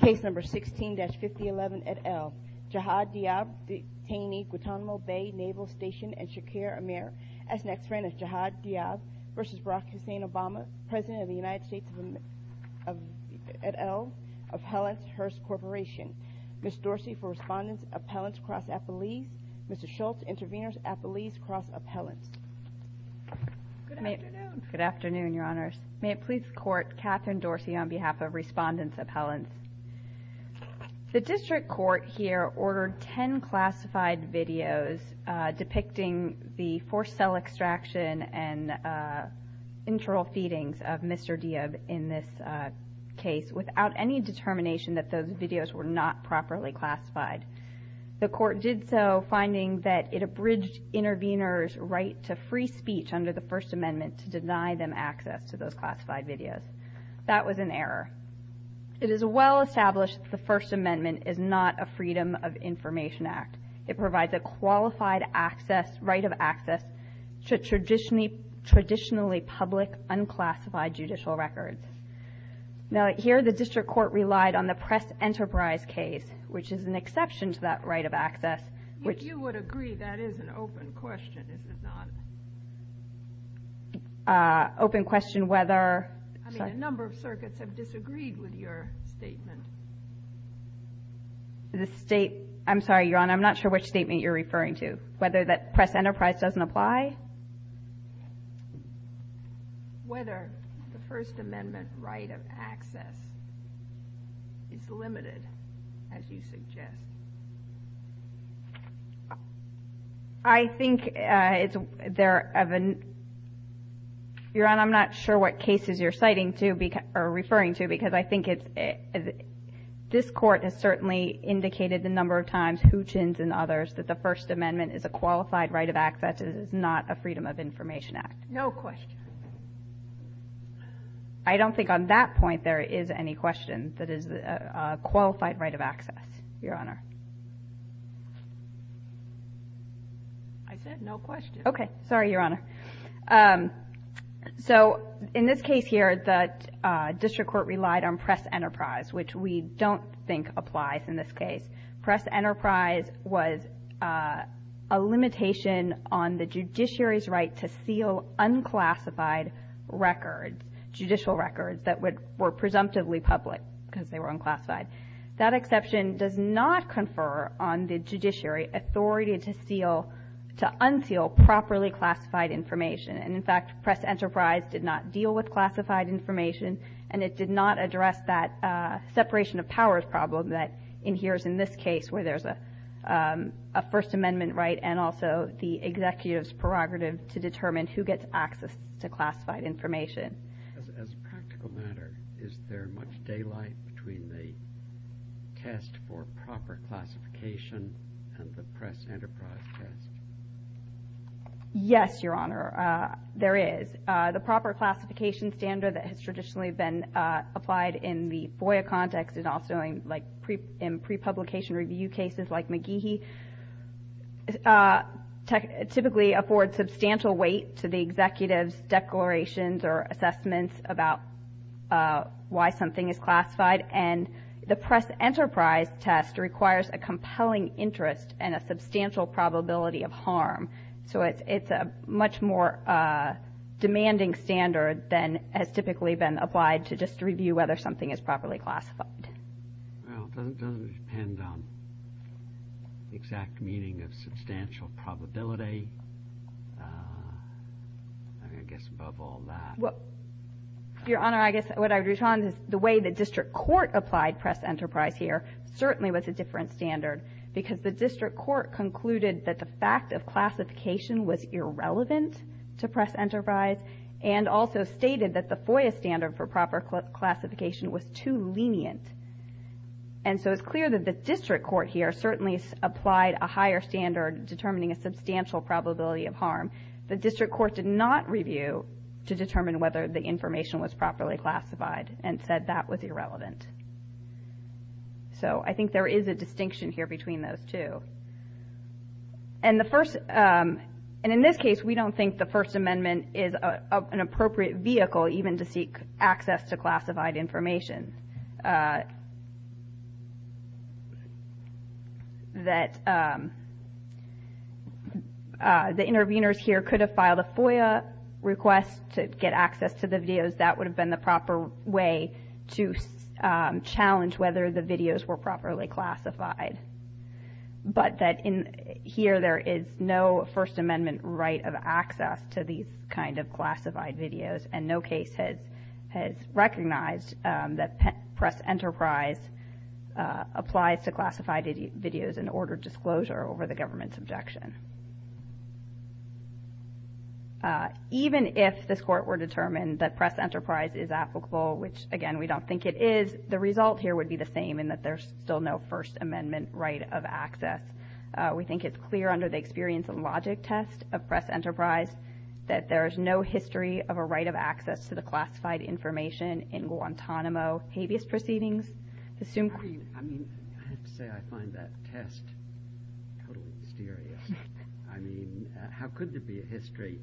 Case number 16-5011 et al. Jihad Dhiab, detainee, Guantanamo Bay Naval Station, and Shakir Amir. As next friend is Jihad Dhiab v. Barack Hussein Obama, President of the United States et al., Appellants Hearst Corporation. Ms. Dorsey for Respondents, Appellants Cross-Appellees. Mr. Schultz, Intervenors, Appellees Cross-Appellants. Good afternoon. Good afternoon, Your Honors. May it please the Court, Kathryn Dorsey on behalf of Respondents Appellants. The District Court here ordered ten classified videos depicting the forced cell extraction and internal feedings of Mr. Dhiab in this case without any determination that those videos were not properly classified. The Court did so finding that it abridged intervenors' right to free speech under the First Amendment to deny them access to those classified videos. That was an error. It is well established that the First Amendment is not a Freedom of Information Act. It provides a qualified access, right of access to traditionally public, unclassified judicial records. Now, here the District Court relied on the Press-Enterprise case, which is an exception to that right of access, which If you would agree, that is an open question, is it not? Open question whether I mean, a number of circuits have disagreed with your statement. The State, I'm sorry, Your Honor, I'm not sure which statement you're referring to. Whether that Press-Enterprise doesn't apply? Whether the First Amendment right of access is limited, as you suggest? I think it's there of an Your Honor, I'm not sure what cases you're citing to, or referring to, because I think it's This Court has certainly indicated a number of times, Hutchins and others, that the First Amendment is a qualified right of access. That it is not a Freedom of Information Act. No question. I don't think on that point there is any question that is a qualified right of access, Your Honor. I said no question. Okay. Sorry, Your Honor. So, in this case here, the District Court relied on Press-Enterprise, which we don't think applies in this case. Press-Enterprise was a limitation on the judiciary's right to seal unclassified records, judicial records, that were presumptively public, because they were unclassified. That exception does not confer on the judiciary authority to unseal properly classified information. And, in fact, Press-Enterprise did not deal with classified information, and it did not address that separation of powers problem that adheres in this case, where there's a First Amendment right and also the executive's prerogative to determine who gets access to classified information. As a practical matter, is there much daylight between the test for proper classification and the Press-Enterprise test? Yes, Your Honor, there is. The proper classification standard that has traditionally been applied in the FOIA context and also in pre-publication review cases like McGehee, typically affords substantial weight to the executive's declarations or assessments about why something is classified. And the Press-Enterprise test requires a compelling interest and a substantial probability of harm. So it's a much more demanding standard than has typically been applied to just review whether something is properly classified. Well, it doesn't depend on the exact meaning of substantial probability. I mean, I guess above all that. Well, Your Honor, I guess what I would retort on is the way the district court applied Press-Enterprise here certainly was a different standard because the district court concluded that the fact of classification was irrelevant to Press-Enterprise and also stated that the FOIA standard for proper classification was too lenient. And so it's clear that the district court here certainly applied a higher standard determining a substantial probability of harm. The district court did not review to determine whether the information was properly classified and said that was irrelevant. So I think there is a distinction here between those two. And in this case, we don't think the First Amendment is an appropriate vehicle even to seek access to classified information. That the interveners here could have filed a FOIA request to get access to the videos. That would have been the proper way to challenge whether the videos were properly classified. But that here there is no First Amendment right of access to these kind of classified videos and no case has recognized that Press-Enterprise applies to classified videos in order disclosure over the government's objection. Even if this court were determined that Press-Enterprise is applicable, which again we don't think it is, the result here would be the same in that there's still no First Amendment right of access. We think it's clear under the experience and logic test of Press-Enterprise that there is no history of a right of access to the classified information in Guantanamo habeas proceedings. I have to say I find that test totally mysterious. How could there be a history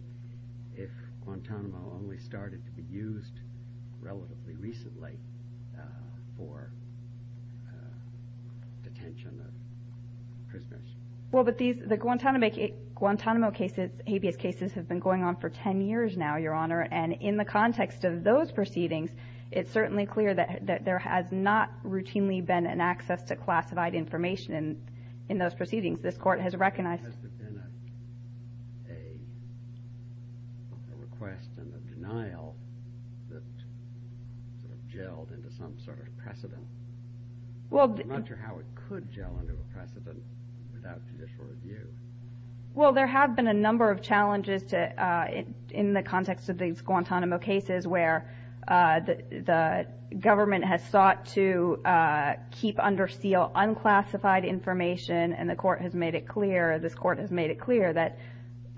if Guantanamo only started to be used relatively recently for detention of prisoners? The Guantanamo habeas cases have been going on for 10 years now, Your Honor, and in the context of those proceedings it's certainly clear that there has not routinely been an access to classified information in those proceedings. This court has recognized... Has there been a request and a denial that sort of gelled into some sort of precedent? I'm not sure how it could gel into a precedent without judicial review. Well, there have been a number of challenges in the context of these Guantanamo cases where the government has sought to keep under seal unclassified information and the court has made it clear, this court has made it clear that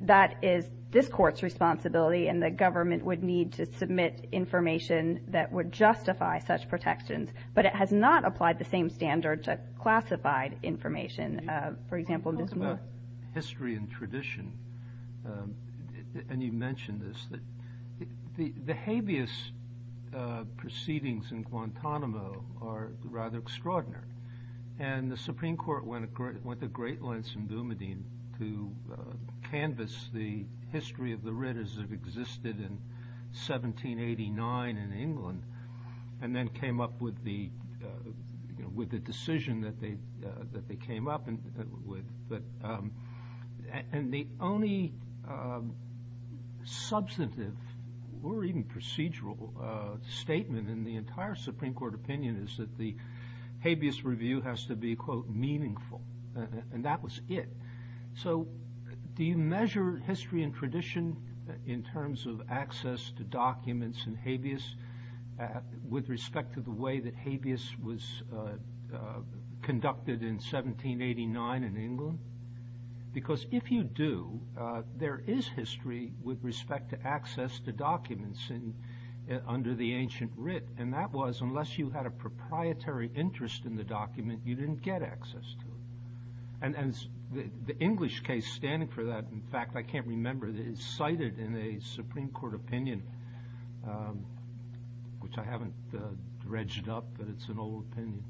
that is this court's responsibility and the government would need to submit information that would justify such protections. But it has not applied the same standard to classified information. When you talk about history and tradition, and you mentioned this, the habeas proceedings in Guantanamo are rather extraordinary and the Supreme Court went to great lengths in Boumediene to canvas the history of the Ritters that existed in 1789 in England and then came up with the decision that they came up with. And the only substantive or even procedural statement in the entire Supreme Court opinion is that the habeas review has to be, quote, meaningful, and that was it. So do you measure history and tradition in terms of access to documents in habeas with respect to the way that habeas was conducted in 1789 in England? Because if you do, there is history with respect to access to documents under the ancient writ, and that was unless you had a proprietary interest in the document, you didn't get access to it. And the English case standing for that, in fact, I can't remember, is cited in a Supreme Court opinion, which I haven't dredged up, but it's an old opinion.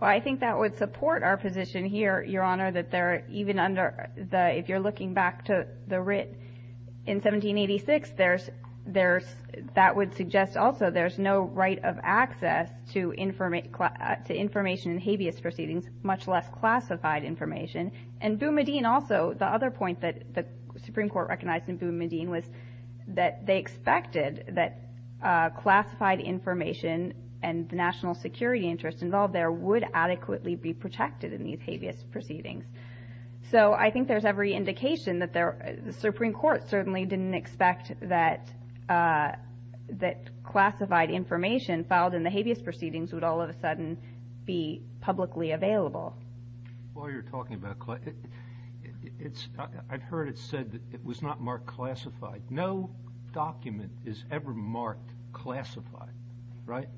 Well, I think that would support our position here, Your Honor, that even if you're looking back to the writ in 1786, that would suggest also there's no right of access to information in habeas proceedings, much less classified information. And Boumediene also, the other point that the Supreme Court recognized in Boumediene was that they expected that classified information and the national security interest involved there would adequately be protected in these habeas proceedings. So I think there's every indication that the Supreme Court certainly didn't expect that classified information filed in the habeas proceedings would all of a sudden be publicly available. While you're talking about classified, I've heard it said that it was not marked classified. No document is ever marked classified, right?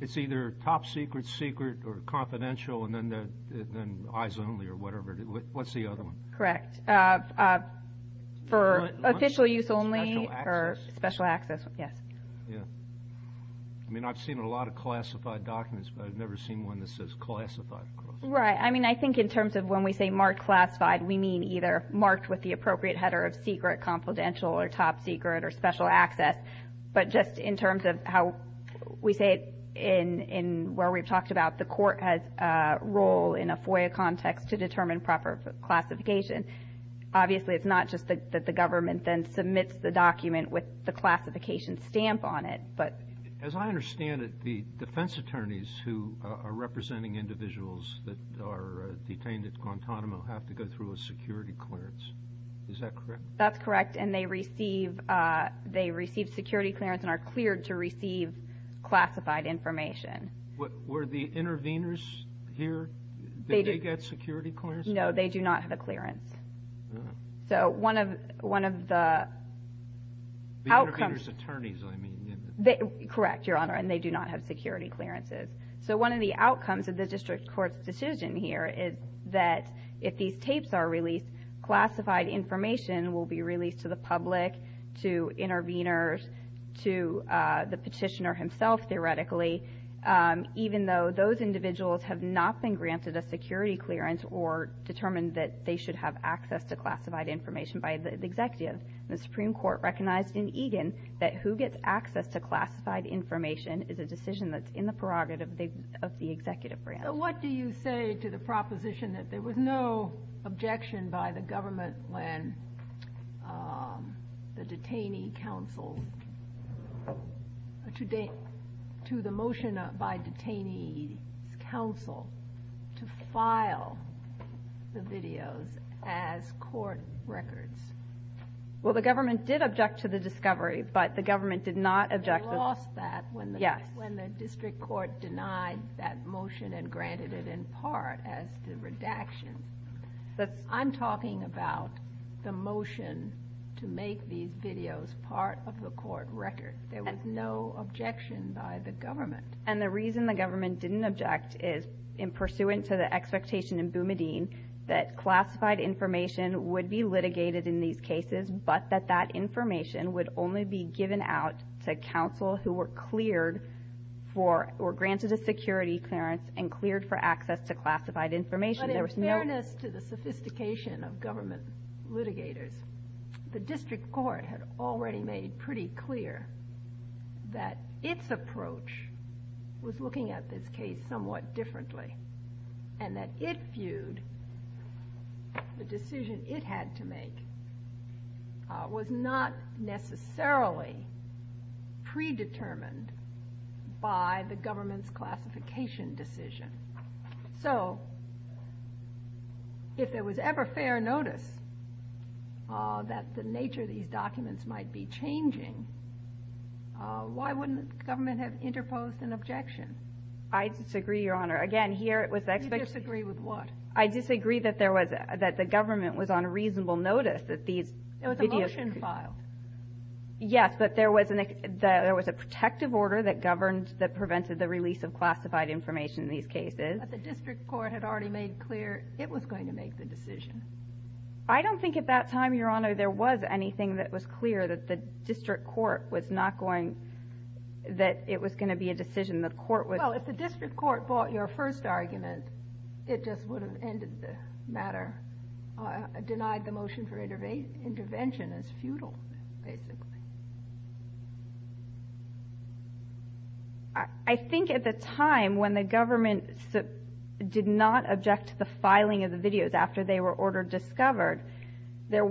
It's either top secret, secret, or confidential, and then eyes only or whatever. What's the other one? Correct. For official use only or special access, yes. I mean, I've seen a lot of classified documents, but I've never seen one that says classified. Right. I mean, I think in terms of when we say marked classified, we mean either marked with the appropriate header of secret, confidential, or top secret, or special access. But just in terms of how we say it in where we've talked about the court has a role in a FOIA context to determine proper classification. Obviously, it's not just that the government then submits the document with the classification stamp on it. As I understand it, the defense attorneys who are representing individuals that are detained at Guantanamo have to go through a security clearance. Is that correct? That's correct, and they receive security clearance and are cleared to receive classified information. Were the interveners here? Did they get security clearance? No, they do not have a clearance. So one of the outcomes- The intervener's attorneys, I mean. Correct, Your Honor, and they do not have security clearances. So one of the outcomes of the district court's decision here is that if these tapes are released, classified information will be released to the public, to interveners, to the petitioner himself, theoretically, even though those individuals have not been granted a security clearance or determined that they should have access to classified information by the executive. The Supreme Court recognized in Egan that who gets access to classified information is a decision that's in the prerogative of the executive branch. So what do you say to the proposition that there was no objection by the government when the detainee counsel, to the motion by detainee counsel to file the videos as court records? Well, the government did object to the discovery, but the government did not object- They lost that when the district court denied that motion and granted it in part as the redaction. I'm talking about the motion to make these videos part of the court record. There was no objection by the government. And the reason the government didn't object is in pursuant to the expectation in Boumediene that classified information would be litigated in these cases, but that that information would only be given out to counsel who were cleared for, or granted a security clearance and cleared for access to classified information. But in fairness to the sophistication of government litigators, the district court had already made pretty clear that its approach was looking at this case somewhat differently and that it viewed the decision it had to make was not necessarily predetermined by the government's classification decision. So if there was ever fair notice that the nature of these documents might be changing, why wouldn't the government have interposed an objection? I disagree, Your Honor. Again, here it was- You disagree with what? I disagree that the government was on reasonable notice that these videos- It was a motion file. Yes, but there was a protective order that governed, that prevented the release of classified information in these cases. But the district court had already made clear it was going to make the decision. I don't think at that time, Your Honor, there was anything that was clear that the district court was not going- that it was going to be a decision the court was- Well, if the district court bought your first argument, it just would have ended the matter. Denied the motion for intervention is futile, basically. I think at the time when the government did not object to the filing of the videos after they were ordered discovered, the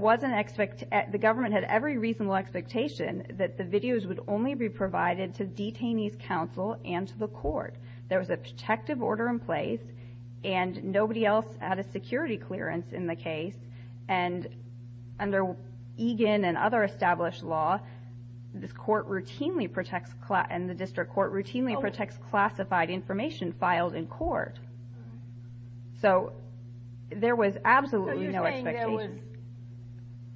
government had every reasonable expectation that the videos would only be provided to detainees' counsel and to the court. There was a protective order in place, and nobody else had a security clearance in the case. And under Egan and other established law, this court routinely protects- and the district court routinely protects classified information filed in court. So there was absolutely no expectation. So you're saying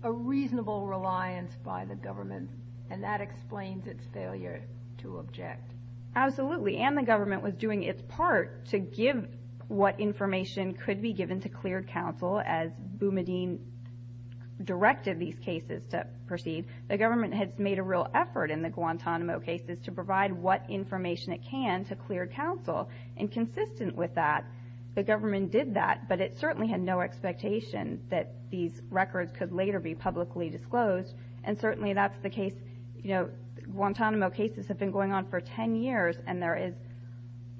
there was a reasonable reliance by the government, and that explains its failure to object. Absolutely. And the government was doing its part to give what information could be given to cleared counsel, as Boumediene directed these cases to proceed. The government has made a real effort in the Guantanamo cases to provide what information it can to cleared counsel. And consistent with that, the government did that, but it certainly had no expectation that these records could later be publicly disclosed. And certainly that's the case-you know, Guantanamo cases have been going on for 10 years, and there is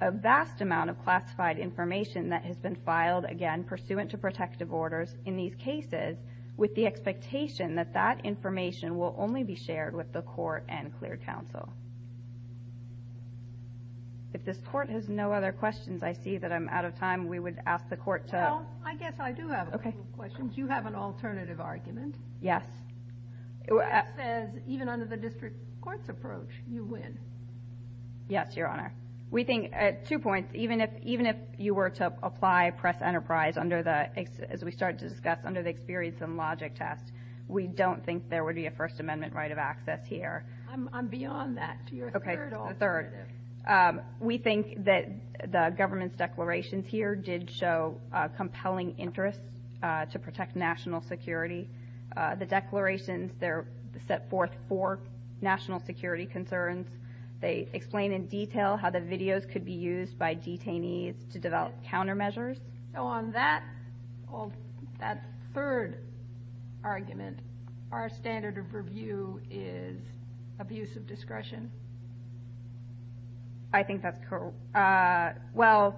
a vast amount of classified information that has been filed, again, pursuant to protective orders in these cases, with the expectation that that information will only be shared with the court and cleared counsel. If this court has no other questions, I see that I'm out of time. We would ask the court to- Well, I guess I do have a couple of questions. You have an alternative argument. Yes. It says even under the district court's approach, you win. Yes, Your Honor. We think-two points. Even if you were to apply press enterprise under the-as we started to discuss, under the experience and logic test, we don't think there would be a First Amendment right of access here. Okay, the third. We think that the government's declarations here did show compelling interest to protect national security. The declarations, they're set forth for national security concerns. They explain in detail how the videos could be used by detainees to develop countermeasures. So on that third argument, our standard of review is abuse of discretion. I think that's correct. Well,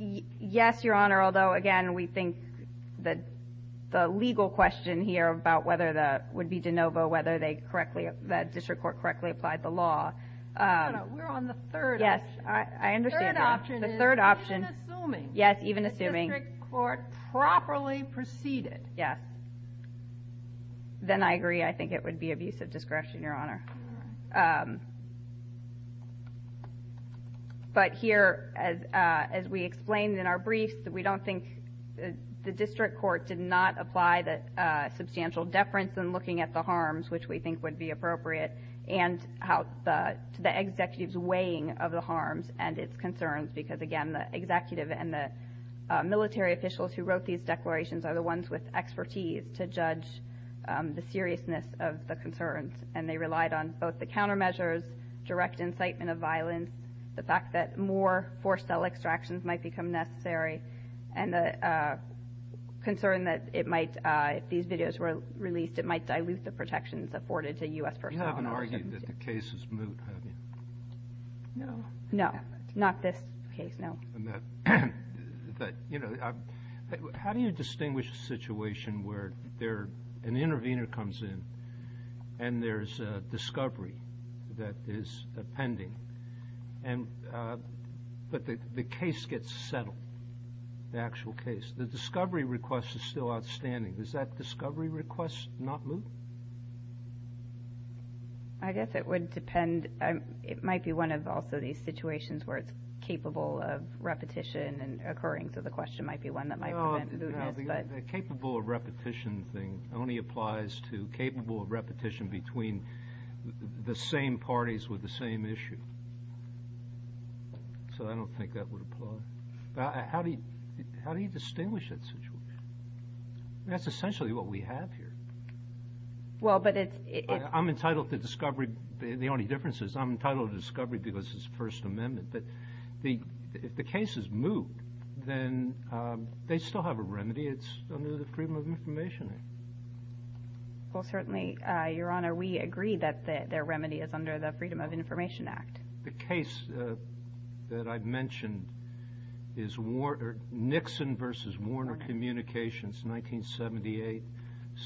yes, Your Honor. Although, again, we think that the legal question here about whether that would be de novo, whether that district court correctly applied the law- No, no. We're on the third option. Yes, I understand that. The third option is- The third option- Even assuming- Yes, even assuming- The district court properly preceded. Yes. Then I agree. I think it would be abuse of discretion, Your Honor. But here, as we explained in our briefs, we don't think the district court did not apply the substantial deference in looking at the harms which we think would be appropriate and to the executive's weighing of the harms and its concerns, because, again, the executive and the military officials who wrote these declarations are the ones with expertise to judge the seriousness of the concerns. And they relied on both the countermeasures, direct incitement of violence, the fact that more forced cell extractions might become necessary, and the concern that it might, if these videos were released, it might dilute the protections afforded to U.S. personnel- You haven't argued that the case is moot, have you? No. No. Not this case, no. And that, you know- How do you distinguish a situation where an intervener comes in and there's a discovery that is pending, but the case gets settled, the actual case? The discovery request is still outstanding. Does that discovery request not moot? I guess it would depend. It might be one of also these situations where it's capable of repetition and occurring, so the question might be one that might prevent mootness. The capable of repetition thing only applies to capable of repetition between the same parties with the same issue. So I don't think that would apply. How do you distinguish that situation? That's essentially what we have here. Well, but it's- I'm entitled to discovery. The only difference is I'm entitled to discovery because it's First Amendment. But if the case is moot, then they still have a remedy. It's under the Freedom of Information Act. Well, certainly, Your Honor, we agree that their remedy is under the Freedom of Information Act. The case that I've mentioned is Nixon v. Warner Communications, 1978,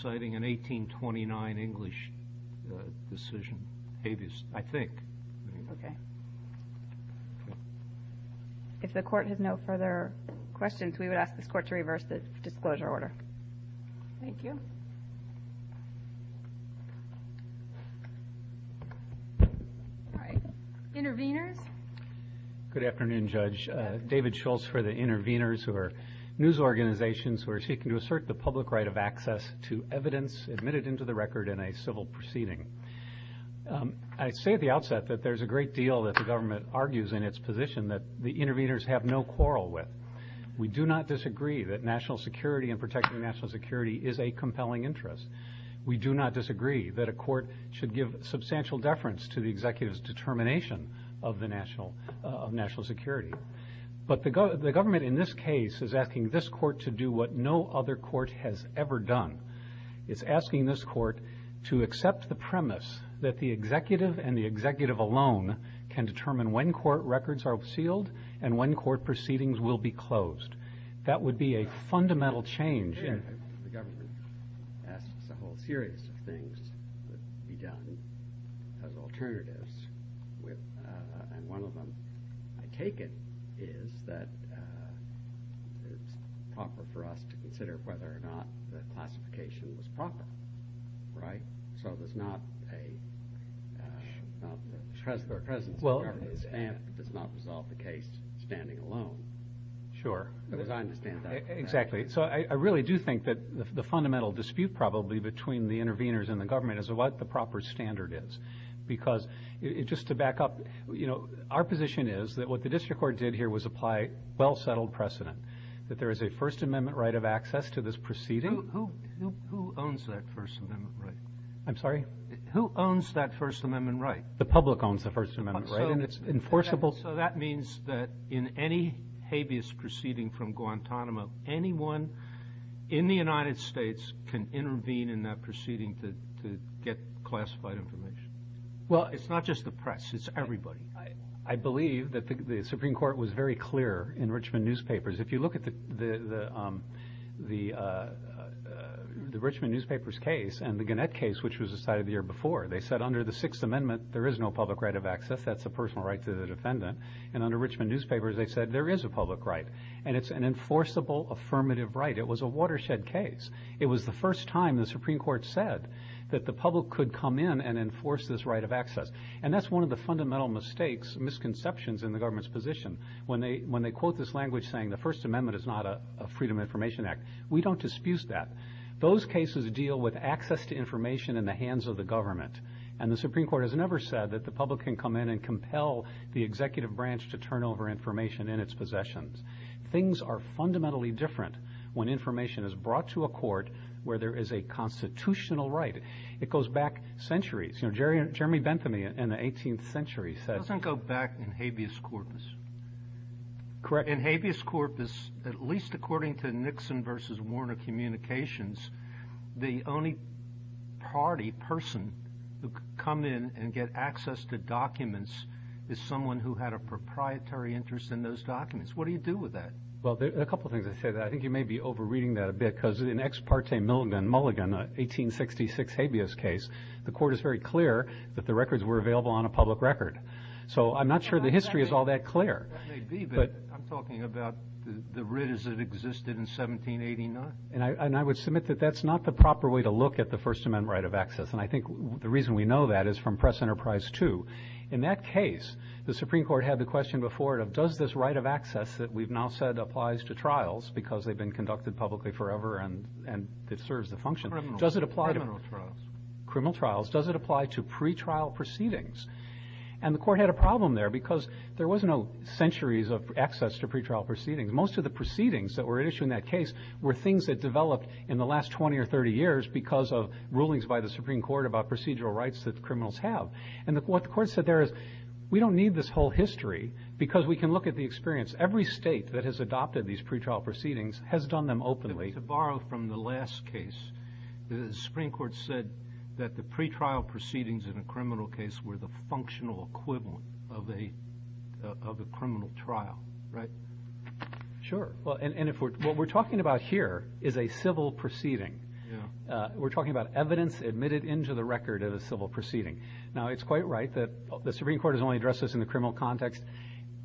citing an 1829 English decision, habeas, I think. Okay. If the Court has no further questions, we would ask this Court to reverse the disclosure order. Thank you. All right. Interveners? Good afternoon, Judge. David Schultz for the Interveners, who are news organizations who are seeking to assert the public right of access to evidence admitted into the record in a civil proceeding. I say at the outset that there's a great deal that the government argues in its position that the Interveners have no quarrel with. We do not disagree that national security and protecting national security is a compelling interest. We do not disagree that a court should give substantial deference to the executive's determination of national security. But the government in this case is asking this Court to do what no other court has ever done. It's asking this Court to accept the premise that the executive and the executive alone can determine when court records are sealed and when court proceedings will be closed. That would be a fundamental change. The government asks a whole series of things that could be done as alternatives, and one of them, I take it, is that it's proper for us to consider whether or not the classification was proper. Right? So there's not a presence of the government that does not resolve the case standing alone. Sure. Because I understand that. Exactly. So I really do think that the fundamental dispute probably between the Interveners and the government is what the proper standard is, because just to back up, our position is that what the district court did here was apply well-settled precedent, that there is a First Amendment right of access to this proceeding. Who owns that First Amendment right? I'm sorry? Who owns that First Amendment right? The public owns the First Amendment right, and it's enforceable. So that means that in any habeas proceeding from Guantanamo, anyone in the United States can intervene in that proceeding to get classified information. Well, it's not just the press. It's everybody. I believe that the Supreme Court was very clear in Richmond newspapers. If you look at the Richmond newspapers case and the Gannett case, which was decided the year before, they said under the Sixth Amendment there is no public right of access. That's a personal right to the defendant. And under Richmond newspapers they said there is a public right, and it's an enforceable, affirmative right. It was a watershed case. It was the first time the Supreme Court said that the public could come in and enforce this right of access. And that's one of the fundamental mistakes, misconceptions in the government's position. When they quote this language saying the First Amendment is not a Freedom of Information Act, we don't dispute that. Those cases deal with access to information in the hands of the government, and the Supreme Court has never said that the public can come in and compel the executive branch to turn over information in its possessions. Things are fundamentally different when information is brought to a court where there is a constitutional right. It goes back centuries. You know, Jeremy Bentham in the 18th century said It doesn't go back in habeas corpus. Correct. In habeas corpus, at least according to Nixon v. Warner Communications, the only party, person, who could come in and get access to documents is someone who had a proprietary interest in those documents. What do you do with that? Well, there are a couple of things I'd say. I think you may be over-reading that a bit because in Ex Parte Mulligan, an 1866 habeas case, the court is very clear that the records were available on a public record. So I'm not sure the history is all that clear. It may be, but I'm talking about the writ as it existed in 1789. And I would submit that that's not the proper way to look at the First Amendment right of access, and I think the reason we know that is from Press Enterprise 2. In that case, the Supreme Court had the question before it of does this right of access that we've now said applies to trials because they've been conducted publicly forever and it serves the function, does it apply to criminal trials, does it apply to pretrial proceedings? And the court had a problem there because there was no centuries of access to pretrial proceedings. Most of the proceedings that were issued in that case were things that developed in the last 20 or 30 years because of rulings by the Supreme Court about procedural rights that criminals have. And what the court said there is we don't need this whole history because we can look at the experience. Every state that has adopted these pretrial proceedings has done them openly. To borrow from the last case, the Supreme Court said that the pretrial proceedings in a criminal case were the functional equivalent of a criminal trial, right? Sure. And what we're talking about here is a civil proceeding. We're talking about evidence admitted into the record of a civil proceeding. Now, it's quite right that the Supreme Court has only addressed this in the criminal context.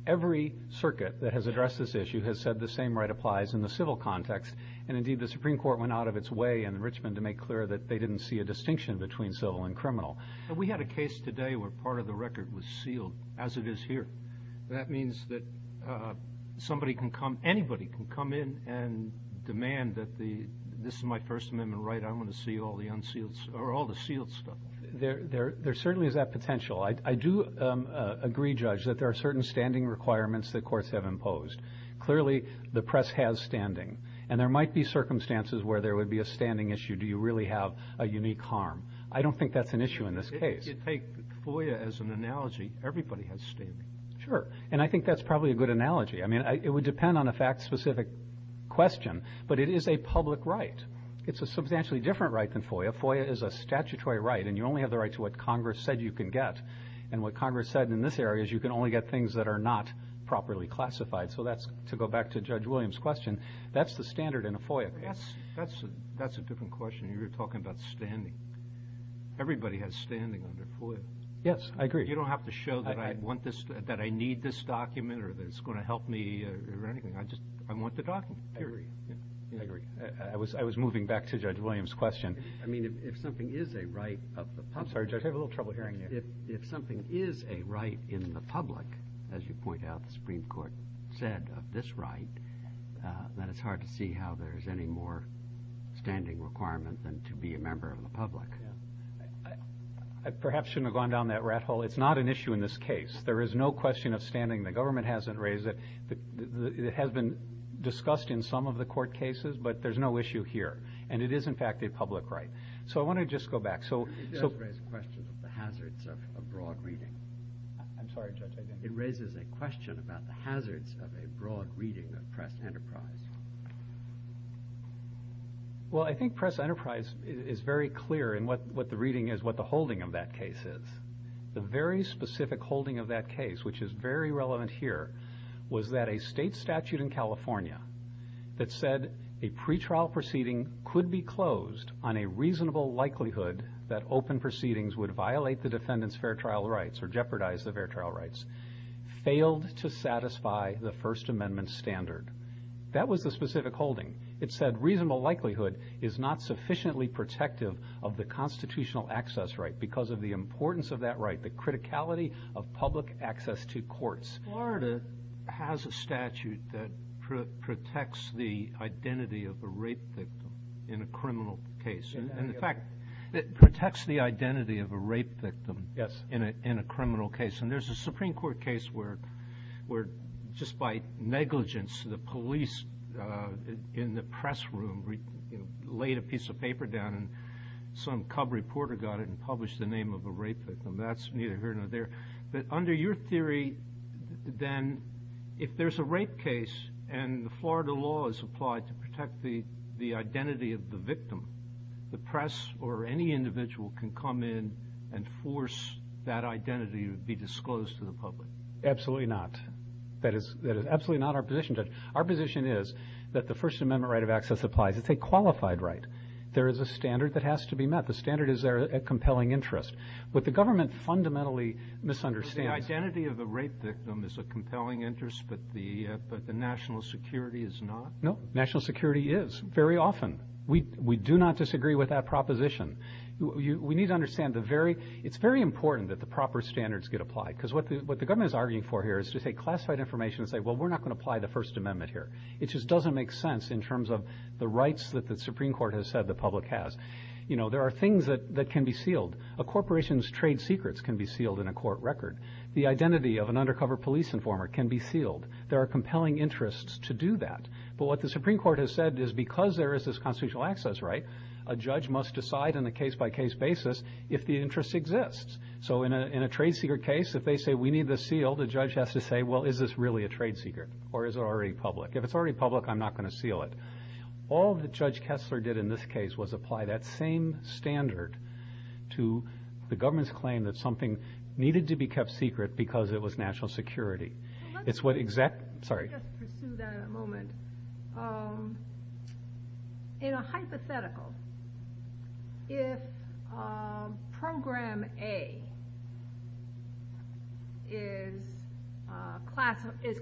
Every circuit that has addressed this issue has said the same right applies in the civil context, and indeed the Supreme Court went out of its way in Richmond to make clear that they didn't see a distinction between civil and criminal. We had a case today where part of the record was sealed, as it is here. That means that anybody can come in and demand that this is my First Amendment right. I want to see all the sealed stuff. There certainly is that potential. I do agree, Judge, that there are certain standing requirements that courts have imposed. Clearly, the press has standing, and there might be circumstances where there would be a standing issue. Do you really have a unique harm? I don't think that's an issue in this case. If you take FOIA as an analogy, everybody has standing. Sure, and I think that's probably a good analogy. I mean, it would depend on a fact-specific question, but it is a public right. It's a substantially different right than FOIA. FOIA is a statutory right, and you only have the right to what Congress said you can get. And what Congress said in this area is you can only get things that are not properly classified. So that's, to go back to Judge Williams' question, that's the standard in a FOIA case. That's a different question. You're talking about standing. Everybody has standing under FOIA. Yes, I agree. You don't have to show that I need this document or that it's going to help me or anything. I just want the document. I agree. I was moving back to Judge Williams' question. I mean, if something is a right of the public. I'm sorry, Judge, I have a little trouble hearing you. If something is a right in the public, as you point out, the Supreme Court said of this right, then it's hard to see how there's any more standing requirement than to be a member of the public. I perhaps shouldn't have gone down that rat hole. It's not an issue in this case. There is no question of standing. The government hasn't raised it. It has been discussed in some of the court cases, but there's no issue here. And it is, in fact, a public right. So I want to just go back. It does raise a question of the hazards of a broad reading. I'm sorry, Judge, I didn't hear you. It raises a question about the hazards of a broad reading of Press Enterprise. Well, I think Press Enterprise is very clear in what the reading is, what the holding of that case is. The very specific holding of that case, which is very relevant here, was that a state statute in California that said a pretrial proceeding could be closed on a reasonable likelihood that open proceedings would violate the defendant's fair trial rights or jeopardize the fair trial rights failed to satisfy the First Amendment standard. That was the specific holding. It said reasonable likelihood is not sufficiently protective of the constitutional access right because of the importance of that right, the criticality of public access to courts. Florida has a statute that protects the identity of a rape victim in a criminal case. In fact, it protects the identity of a rape victim in a criminal case. And there's a Supreme Court case where just by negligence the police in the press room laid a piece of paper down and some cub reporter got it and published the name of a rape victim. That's neither here nor there. But under your theory, then, if there's a rape case and the Florida law is applied to protect the identity of the victim, the press or any individual can come in and force that identity to be disclosed to the public. Absolutely not. That is absolutely not our position, Judge. Our position is that the First Amendment right of access applies. It's a qualified right. There is a standard that has to be met. The standard is there at compelling interest. What the government fundamentally misunderstands. The identity of the rape victim is a compelling interest, but the national security is not? No, national security is very often. We do not disagree with that proposition. We need to understand it's very important that the proper standards get applied because what the government is arguing for here is to take classified information and say, well, we're not going to apply the First Amendment here. It just doesn't make sense in terms of the rights that the Supreme Court has said the public has. You know, there are things that can be sealed. A corporation's trade secrets can be sealed in a court record. The identity of an undercover police informer can be sealed. There are compelling interests to do that. But what the Supreme Court has said is because there is this constitutional access right, a judge must decide on a case-by-case basis if the interest exists. So in a trade secret case, if they say we need this sealed, a judge has to say, well, is this really a trade secret or is it already public? If it's already public, I'm not going to seal it. All that Judge Kessler did in this case was apply that same standard to the government's claim that something needed to be kept secret because it was national security. It's what exact – sorry. Let me just pursue that in a moment. In a hypothetical, if Program A is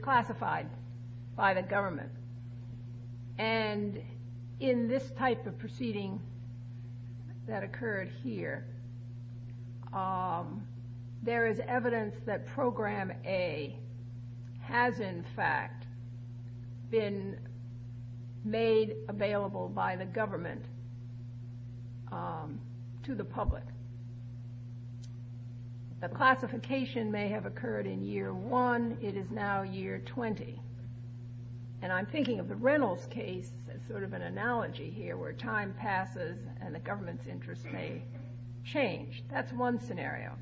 classified by the government and in this type of proceeding that occurred here, there is evidence that Program A has in fact been made available by the government to the public. The classification may have occurred in year one. It is now year 20. And I'm thinking of the Reynolds case as sort of an analogy here where time passes and the government's interest may change. That's one scenario.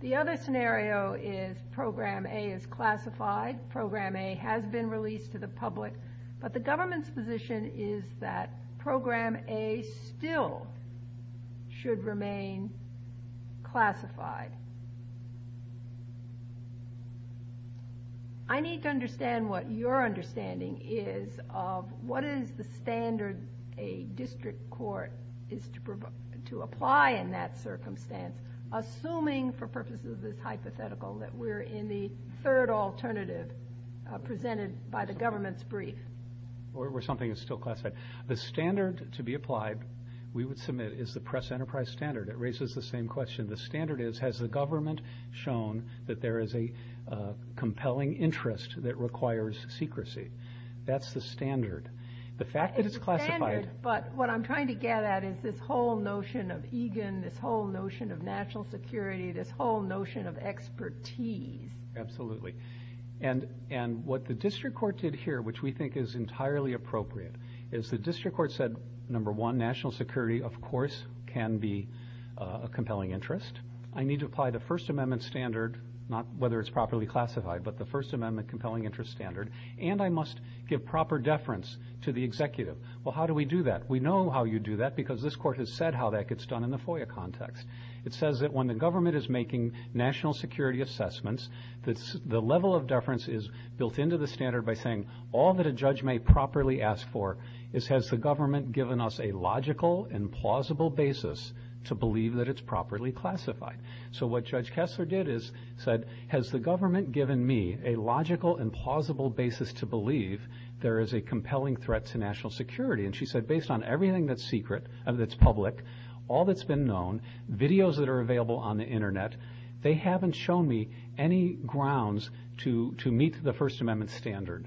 The other scenario is Program A is classified, Program A has been released to the public, but the government's position is that Program A still should remain classified. I need to understand what your understanding is of what is the standard a district court is to apply in that circumstance, assuming for purposes of this hypothetical that we're in the third alternative presented by the government's brief. Or something that's still classified. The standard to be applied, we would submit, is the press enterprise standard. It raises the same question. The standard is, has the government shown that there is a compelling interest that requires secrecy? That's the standard. It's a standard, but what I'm trying to get at is this whole notion of egan, this whole notion of national security, this whole notion of expertise. Absolutely. And what the district court did here, which we think is entirely appropriate, is the district court said, number one, national security, of course, can be a compelling interest. I need to apply the First Amendment standard, not whether it's properly classified, but the First Amendment compelling interest standard, and I must give proper deference to the executive. Well, how do we do that? We know how you do that because this court has said how that gets done in the FOIA context. It says that when the government is making national security assessments, the level of deference is built into the standard by saying all that a judge may properly ask for is, has the government given us a logical and plausible basis to believe that it's properly classified? So what Judge Kessler did is said, has the government given me a logical and plausible basis to believe there is a compelling threat to national security? And she said, based on everything that's secret, that's public, all that's been known, videos that are available on the Internet, they haven't shown me any grounds to meet the First Amendment standard.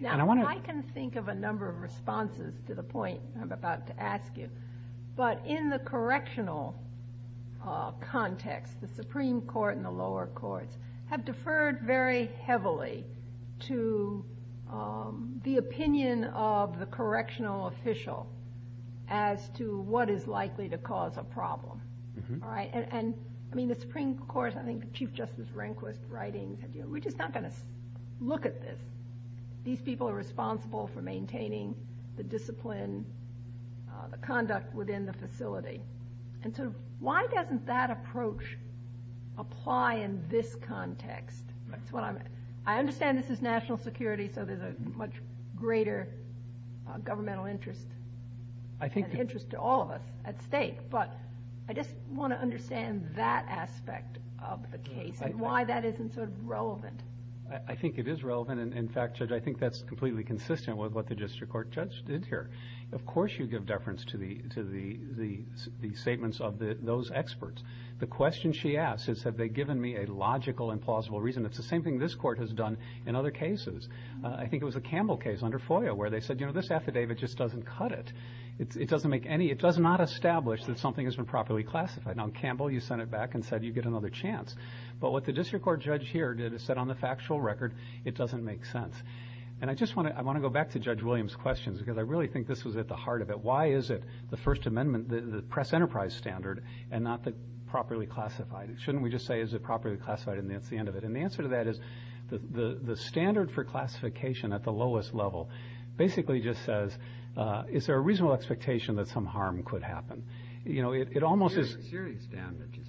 Now, I can think of a number of responses to the point I'm about to ask you, but in the correctional context, the Supreme Court and the lower courts have deferred very heavily to the opinion of the correctional official as to what is likely to cause a problem. All right? And, I mean, the Supreme Court, I think Chief Justice Rehnquist's writing, we're just not going to look at this. These people are responsible for maintaining the discipline, the conduct within the facility. And so why doesn't that approach apply in this context? I understand this is national security, so there's a much greater governmental interest and interest to all of us at stake. But I just want to understand that aspect of the case and why that isn't sort of relevant. I think it is relevant. And, in fact, Judge, I think that's completely consistent with what the district court judge did here. Of course you give deference to the statements of those experts. The question she asks is have they given me a logical and plausible reason. It's the same thing this court has done in other cases. I think it was a Campbell case under FOIA where they said, you know, this affidavit just doesn't cut it. It doesn't make any, it does not establish that something has been properly classified. Now, in Campbell, you sent it back and said you'd get another chance. But what the district court judge here did is said on the factual record it doesn't make sense. And I just want to, I want to go back to Judge Williams' questions because I really think this was at the heart of it. Why is it the First Amendment, the press enterprise standard, and not the properly classified? Shouldn't we just say is it properly classified and that's the end of it? And the answer to that is the standard for classification at the lowest level basically just says is there a reasonable expectation that some harm could happen? You know, it almost is. Serious damage.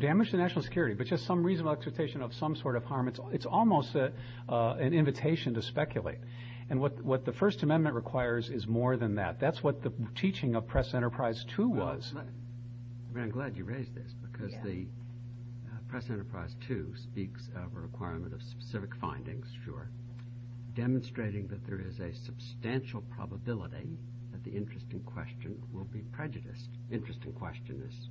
Damage to national security. But just some reasonable expectation of some sort of harm. It's almost an invitation to speculate. And what the First Amendment requires is more than that. That's what the teaching of Press Enterprise 2 was. I'm glad you raised this because the Press Enterprise 2 speaks of a requirement of specific findings. Sure. Demonstrating that there is a substantial probability that the interest in question will be prejudiced. Interest in question is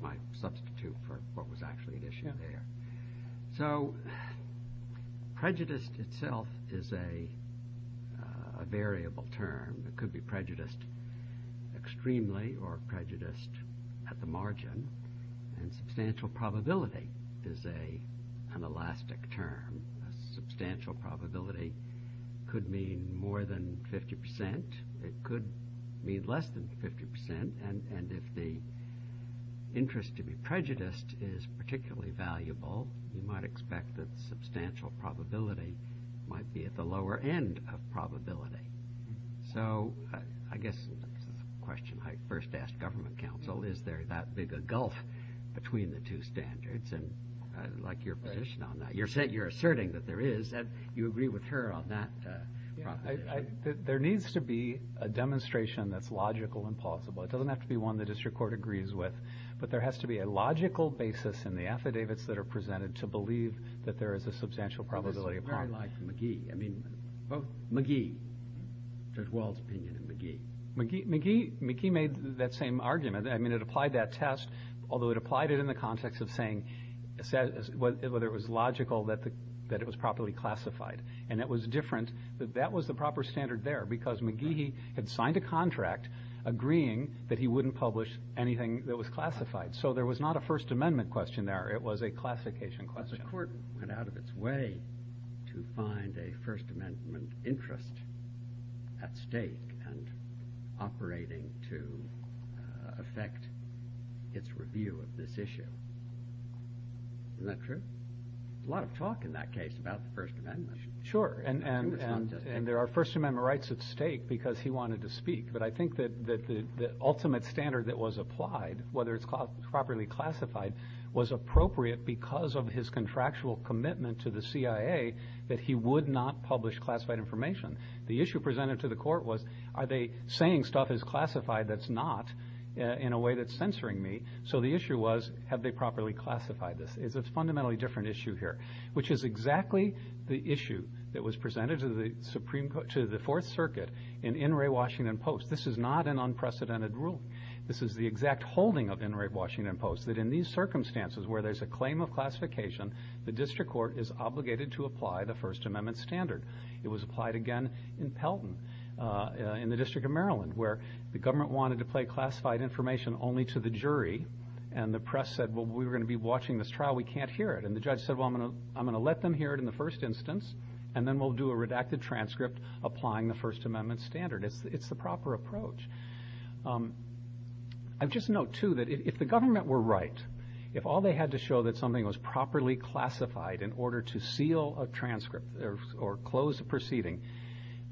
my substitute for what was actually an issue there. So prejudiced itself is a variable term. It could be prejudiced extremely or prejudiced at the margin. And substantial probability is an elastic term. A substantial probability could mean more than 50%. It could mean less than 50%. And if the interest to be prejudiced is particularly valuable, you might expect that substantial probability might be at the lower end of probability. So I guess this is a question I first asked government counsel. Is there that big a gulf between the two standards? And I'd like your position on that. You're asserting that there is. You agree with her on that proposition. There needs to be a demonstration that's logical and plausible. It doesn't have to be one the district court agrees with. But there has to be a logical basis in the affidavits that are presented to believe that there is a substantial probability of harm. I like McGee. I mean, both McGee, Judge Wald's opinion of McGee. McGee made that same argument. I mean, it applied that test, although it applied it in the context of saying whether it was logical that it was properly classified. And it was different that that was the proper standard there because McGee had signed a contract agreeing that he wouldn't publish anything that was classified. So there was not a First Amendment question there. It was a classification question. The court went out of its way to find a First Amendment interest at stake and operating to affect its review of this issue. Isn't that true? There's a lot of talk in that case about the First Amendment. Sure. And there are First Amendment rights at stake because he wanted to speak. But I think that the ultimate standard that was applied, whether it's properly classified, was appropriate because of his contractual commitment to the CIA that he would not publish classified information. The issue presented to the court was are they saying stuff is classified that's not in a way that's censoring me. So the issue was have they properly classified this. It's a fundamentally different issue here, which is exactly the issue that was presented to the Fourth Circuit in Inouye, Washington Post. This is not an unprecedented ruling. This is the exact holding of Inouye, Washington Post, that in these circumstances where there's a claim of classification, the district court is obligated to apply the First Amendment standard. It was applied again in Pelton in the District of Maryland where the government wanted to play classified information only to the jury. And the press said, well, we're going to be watching this trial. We can't hear it. And the judge said, well, I'm going to let them hear it in the first instance and then we'll do a redacted transcript applying the First Amendment standard. It's the proper approach. I just note, too, that if the government were right, if all they had to show that something was properly classified in order to seal a transcript or close a proceeding,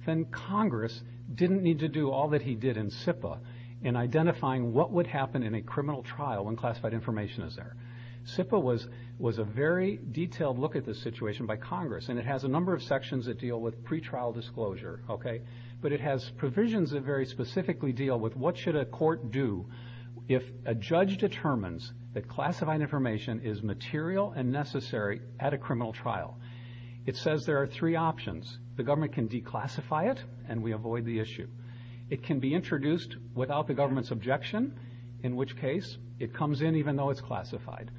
then Congress didn't need to do all that he did in SIPA in identifying what would happen in a criminal trial when classified information is there. SIPA was a very detailed look at this situation by Congress, and it has a number of sections that deal with pretrial disclosure, okay? But it has provisions that very specifically deal with what should a court do if a judge determines that classified information is material and necessary at a criminal trial. It says there are three options. The government can declassify it and we avoid the issue. It can be introduced without the government's objection, in which case it comes in even though it's classified.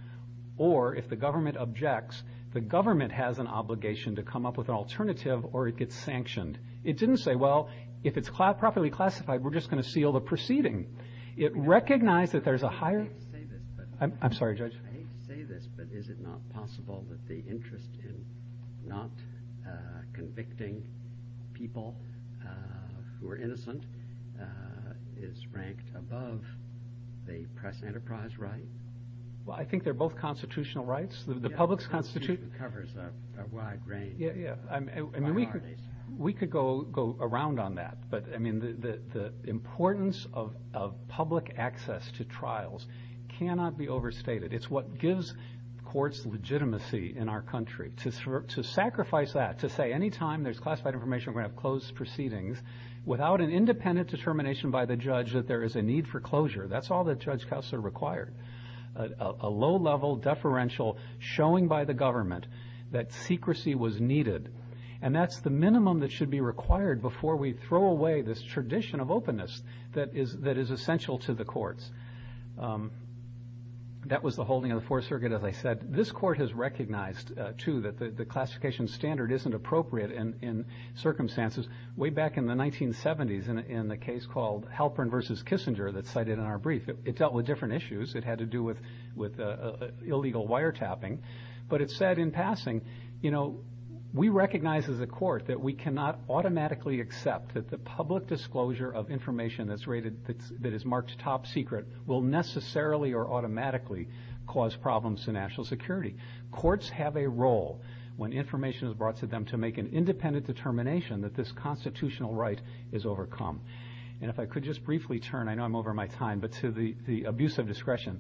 Or if the government objects, the government has an obligation to come up with an alternative or it gets sanctioned. It didn't say, well, if it's properly classified, we're just going to seal the proceeding. It recognized that there's a higher- I'm sorry, Judge. is ranked above the press enterprise right. Well, I think they're both constitutional rights. The public's constitution- It covers a wide range. Yeah, yeah. I mean, we could go around on that, but, I mean, the importance of public access to trials cannot be overstated. It's what gives courts legitimacy in our country. To sacrifice that, to say any time there's classified information, we're going to have closed proceedings, without an independent determination by the judge that there is a need for closure. That's all the judge-counselor required. A low-level deferential showing by the government that secrecy was needed, and that's the minimum that should be required before we throw away this tradition of openness that is essential to the courts. That was the holding of the Fourth Circuit, as I said. But this court has recognized, too, that the classification standard isn't appropriate in circumstances. Way back in the 1970s, in the case called Halpern v. Kissinger that's cited in our brief, it dealt with different issues. It had to do with illegal wiretapping. But it said in passing, you know, we recognize as a court that we cannot automatically accept that the public disclosure of information that is marked top secret will necessarily or automatically cause problems to national security. Courts have a role, when information is brought to them, to make an independent determination that this constitutional right is overcome. And if I could just briefly turn, I know I'm over my time, but to the abuse of discretion.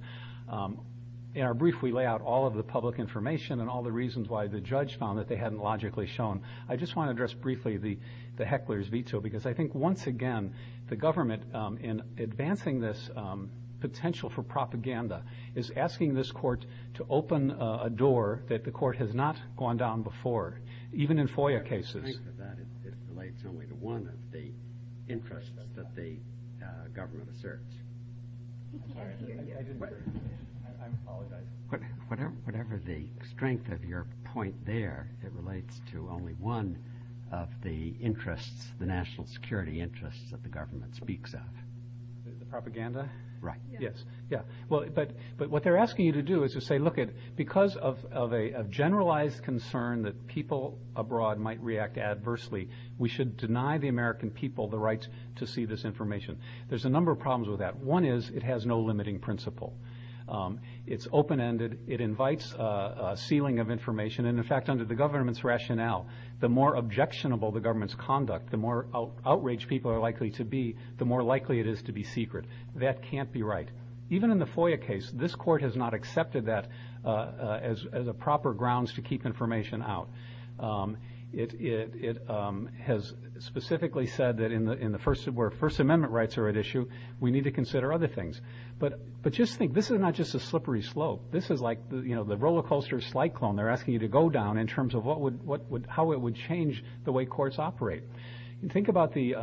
In our brief, we lay out all of the public information and all the reasons why the judge found that they hadn't logically shown. I just want to address briefly the heckler's veto, because I think, once again, the government, in advancing this potential for propaganda, is asking this court to open a door that the court has not gone down before, even in FOIA cases. Whatever the strength of that, it relates only to one of the interests that the government asserts. I'm sorry, I didn't hear you. I apologize. Whatever the strength of your point there, it relates to only one of the interests, the national security interests that the government speaks of. The propaganda? Right. Yes. But what they're asking you to do is to say, look, because of a generalized concern that people abroad might react adversely, we should deny the American people the right to see this information. There's a number of problems with that. One is it has no limiting principle. It's open-ended. It invites a ceiling of information, and, in fact, under the government's rationale, the more objectionable the government's conduct, the more outraged people are likely to be, the more likely it is to be secret. That can't be right. Even in the FOIA case, this court has not accepted that as a proper grounds to keep information out. It has specifically said that where First Amendment rights are at issue, we need to consider other things. But just think, this is not just a slippery slope. This is like the roller coaster slide clone. They're asking you to go down in terms of how it would change the way courts operate. Think about the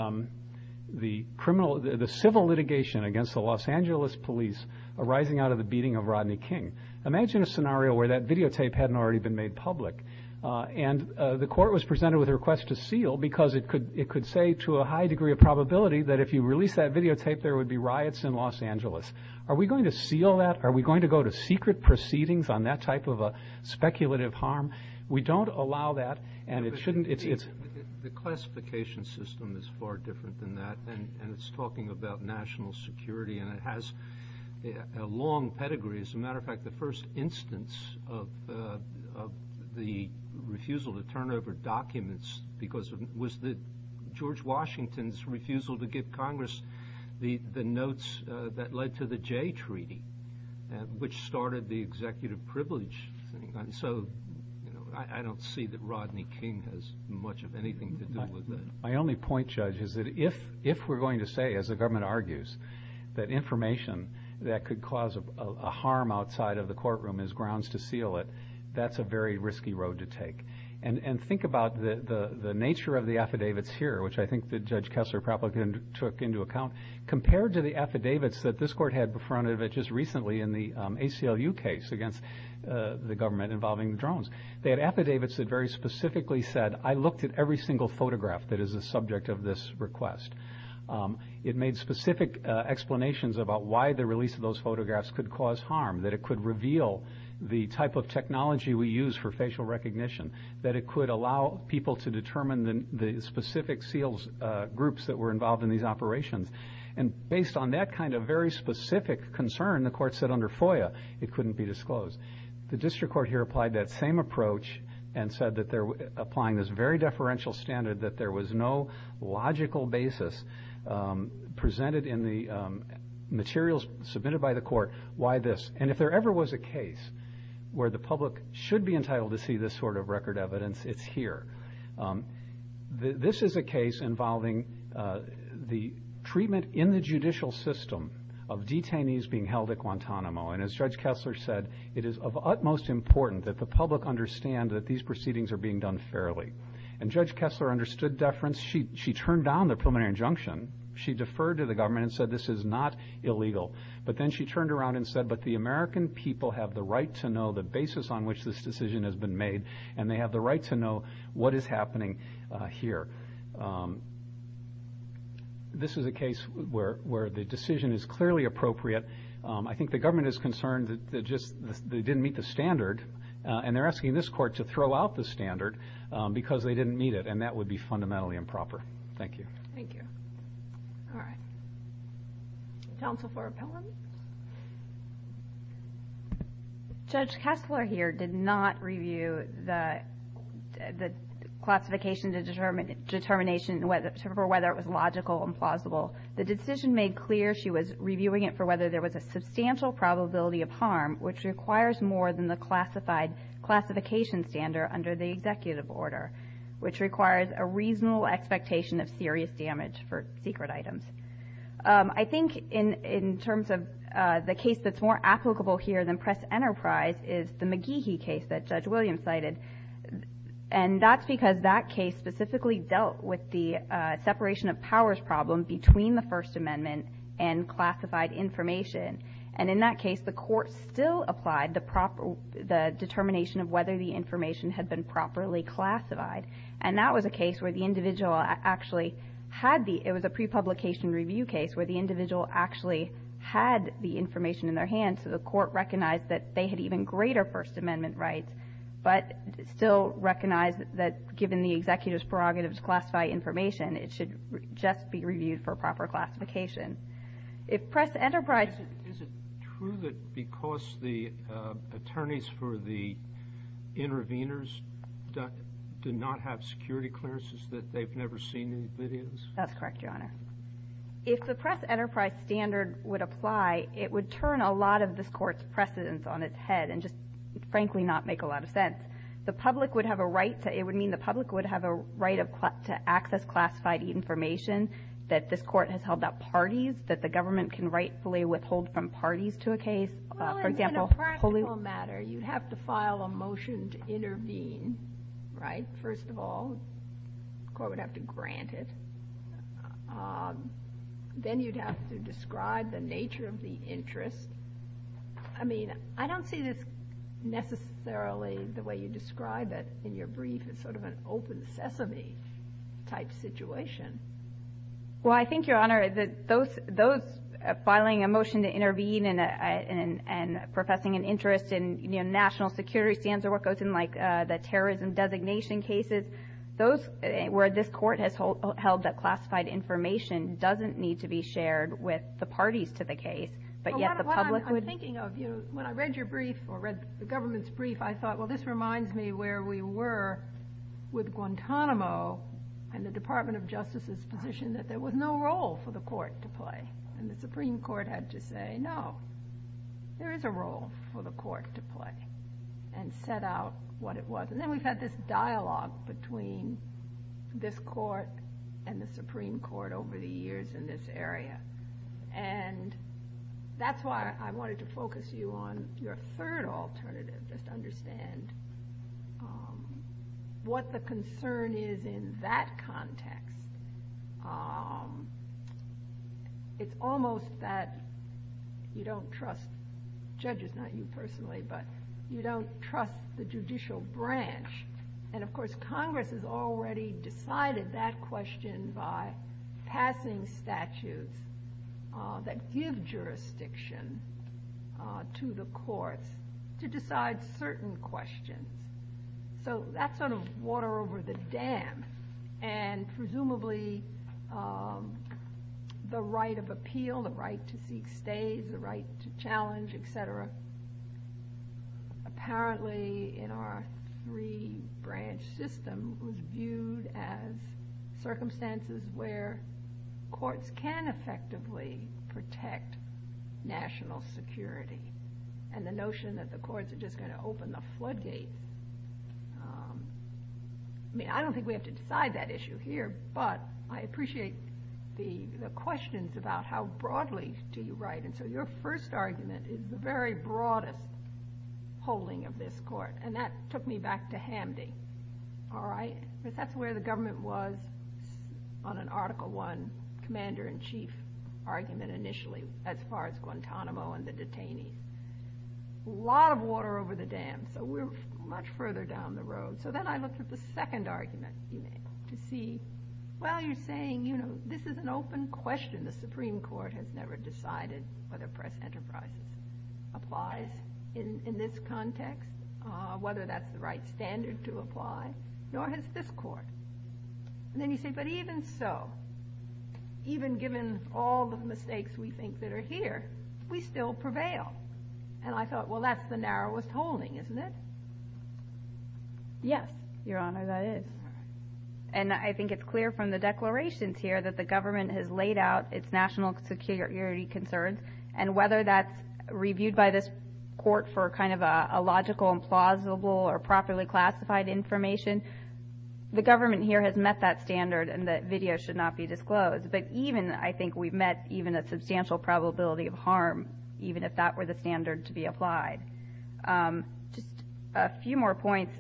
civil litigation against the Los Angeles police arising out of the beating of Rodney King. Imagine a scenario where that videotape hadn't already been made public, and the court was presented with a request to seal because it could say to a high degree of probability that if you release that videotape, there would be riots in Los Angeles. Are we going to seal that? Are we going to go to secret proceedings on that type of a speculative harm? We don't allow that, and it shouldn't. The classification system is far different than that, and it's talking about national security, and it has a long pedigree. As a matter of fact, the first instance of the refusal to turn over documents was George Washington's refusal to give Congress the notes that led to the Jay Treaty, which started the executive privilege thing. I don't see that Rodney King has much of anything to do with that. My only point, Judge, is that if we're going to say, as the government argues, that information that could cause a harm outside of the courtroom is grounds to seal it, that's a very risky road to take. And think about the nature of the affidavits here, which I think that Judge Kessler-Praplick took into account, compared to the affidavits that this court had in front of it just recently in the ACLU case against the government involving the drones. They had affidavits that very specifically said, I looked at every single photograph that is a subject of this request. It made specific explanations about why the release of those photographs could cause harm, that it could reveal the type of technology we use for facial recognition, that it could allow people to determine the specific SEALs groups that were involved in these operations. And based on that kind of very specific concern, the court said under FOIA it couldn't be disclosed. The district court here applied that same approach and said that they're applying this very deferential standard that there was no logical basis presented in the materials submitted by the court why this. And if there ever was a case where the public should be entitled to see this sort of record evidence, it's here. This is a case involving the treatment in the judicial system of detainees being held at Guantanamo. And as Judge Kessler said, it is of utmost importance that the public understand that these proceedings are being done fairly. And Judge Kessler understood deference. She turned down the preliminary injunction. She deferred to the government and said this is not illegal. But then she turned around and said, but the American people have the right to know the basis on which this decision has been made, and they have the right to know what is happening here. This is a case where the decision is clearly appropriate. I think the government is concerned that they didn't meet the standard, and they're asking this court to throw out the standard because they didn't meet it, and that would be fundamentally improper. Thank you. Thank you. All right. Counsel for appellant? Judge Kessler here did not review the classification determination for whether it was logical and plausible. The decision made clear she was reviewing it for whether there was a substantial probability of harm, which requires more than the classified classification standard under the executive order, which requires a reasonable expectation of serious damage for secret items. I think in terms of the case that's more applicable here than Press Enterprise is the McGehee case that Judge Williams cited. And that's because that case specifically dealt with the separation of powers problem between the First Amendment and classified information. And in that case, the court still applied the determination of whether the information had been properly classified. And that was a case where the individual actually had the – it was a pre-publication review case where the individual actually had the information in their hands, so the court recognized that they had even greater First Amendment rights, but still recognized that given the executive's prerogatives to classify information, it should just be reviewed for proper classification. If Press Enterprise – Do they not have security clearances that they've never seen in videos? That's correct, Your Honor. If the Press Enterprise standard would apply, it would turn a lot of this Court's precedents on its head and just frankly not make a lot of sense. The public would have a right to – it would mean the public would have a right to access classified information that this Court has held up parties, that the government can rightfully withhold from parties to a case. For example – It's a legal matter. You'd have to file a motion to intervene, right, first of all. The court would have to grant it. Then you'd have to describe the nature of the interest. I mean, I don't see this necessarily the way you describe it in your brief. It's sort of an open sesame type situation. Well, I think, Your Honor, that those filing a motion to intervene and professing an interest in national security standards or what goes in like the terrorism designation cases, where this Court has held that classified information doesn't need to be shared with the parties to the case, but yet the public would – What I'm thinking of, when I read your brief or read the government's brief, I thought, well, this reminds me where we were with Guantanamo and the Department of Justice's position that there was no role for the court to play. And the Supreme Court had to say, no, there is a role for the court to play and set out what it was. And then we've had this dialogue between this court and the Supreme Court over the years in this area. And that's why I wanted to focus you on your third alternative, just understand what the concern is in that context. It's almost that you don't trust judges, not you personally, but you don't trust the judicial branch. And, of course, Congress has already decided that question by passing statutes that give jurisdiction to the courts to decide certain questions. So that's sort of water over the dam. And presumably the right of appeal, the right to seek stays, the right to challenge, et cetera, apparently in our three-branch system was viewed as circumstances where courts can effectively protect national security. And the notion that the courts are just going to open the floodgate, I mean, I don't think we have to decide that issue here, but I appreciate the questions about how broadly do you write. And so your first argument is the very broadest holding of this court. And that took me back to Hamdi, all right? That's where the government was on an Article I commander-in-chief argument initially as far as Guantanamo and the detainees. A lot of water over the dam, so we're much further down the road. So then I looked at the second argument to see, well, you're saying, you know, this is an open question. The Supreme Court has never decided whether press enterprise applies in this context, whether that's the right standard to apply, nor has this court. And then you say, but even so, even given all the mistakes we think that are here, we still prevail. And I thought, well, that's the narrowest holding, isn't it? Yes, Your Honor, that is. And I think it's clear from the declarations here that the government has laid out its national security concerns, and whether that's reviewed by this court for kind of a logical and plausible or properly classified information, the government here has met that standard and that video should not be disclosed. But even I think we've met even a substantial probability of harm, even if that were the standard to be applied. Just a few more points.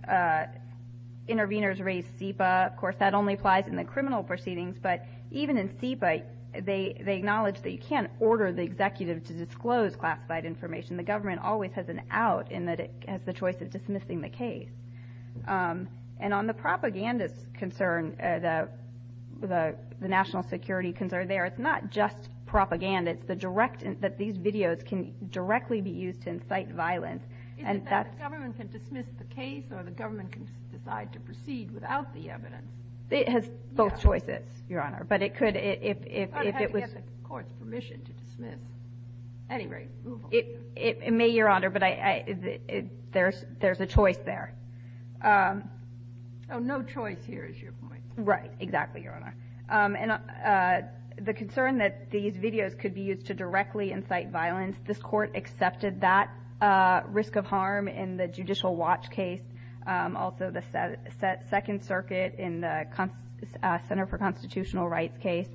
Interveners raised SEPA. Of course, that only applies in the criminal proceedings. But even in SEPA, they acknowledge that you can't order the executive to disclose classified information. The government always has an out in that it has the choice of dismissing the case. And on the propagandist concern, the national security concern there, it's not just propaganda. It's the direct, that these videos can directly be used to incite violence. Is it that the government can dismiss the case, or the government can decide to proceed without the evidence? It has both choices, Your Honor. But it could, if it was the court's permission to dismiss. Anyway, move on. It may, Your Honor, but there's a choice there. Oh, no choice here is your point. Right, exactly, Your Honor. And the concern that these videos could be used to directly incite violence, this Court accepted that risk of harm in the judicial watch case, also the Second Circuit in the Center for Constitutional Rights case.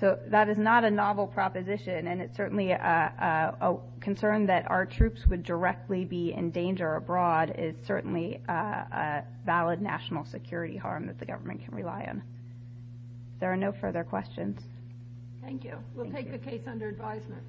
So that is not a novel proposition, and it's certainly a concern that our troops would directly be in danger abroad is certainly a valid national security harm that the government can rely on. There are no further questions. Thank you. We'll take the case under advisement. Thank you.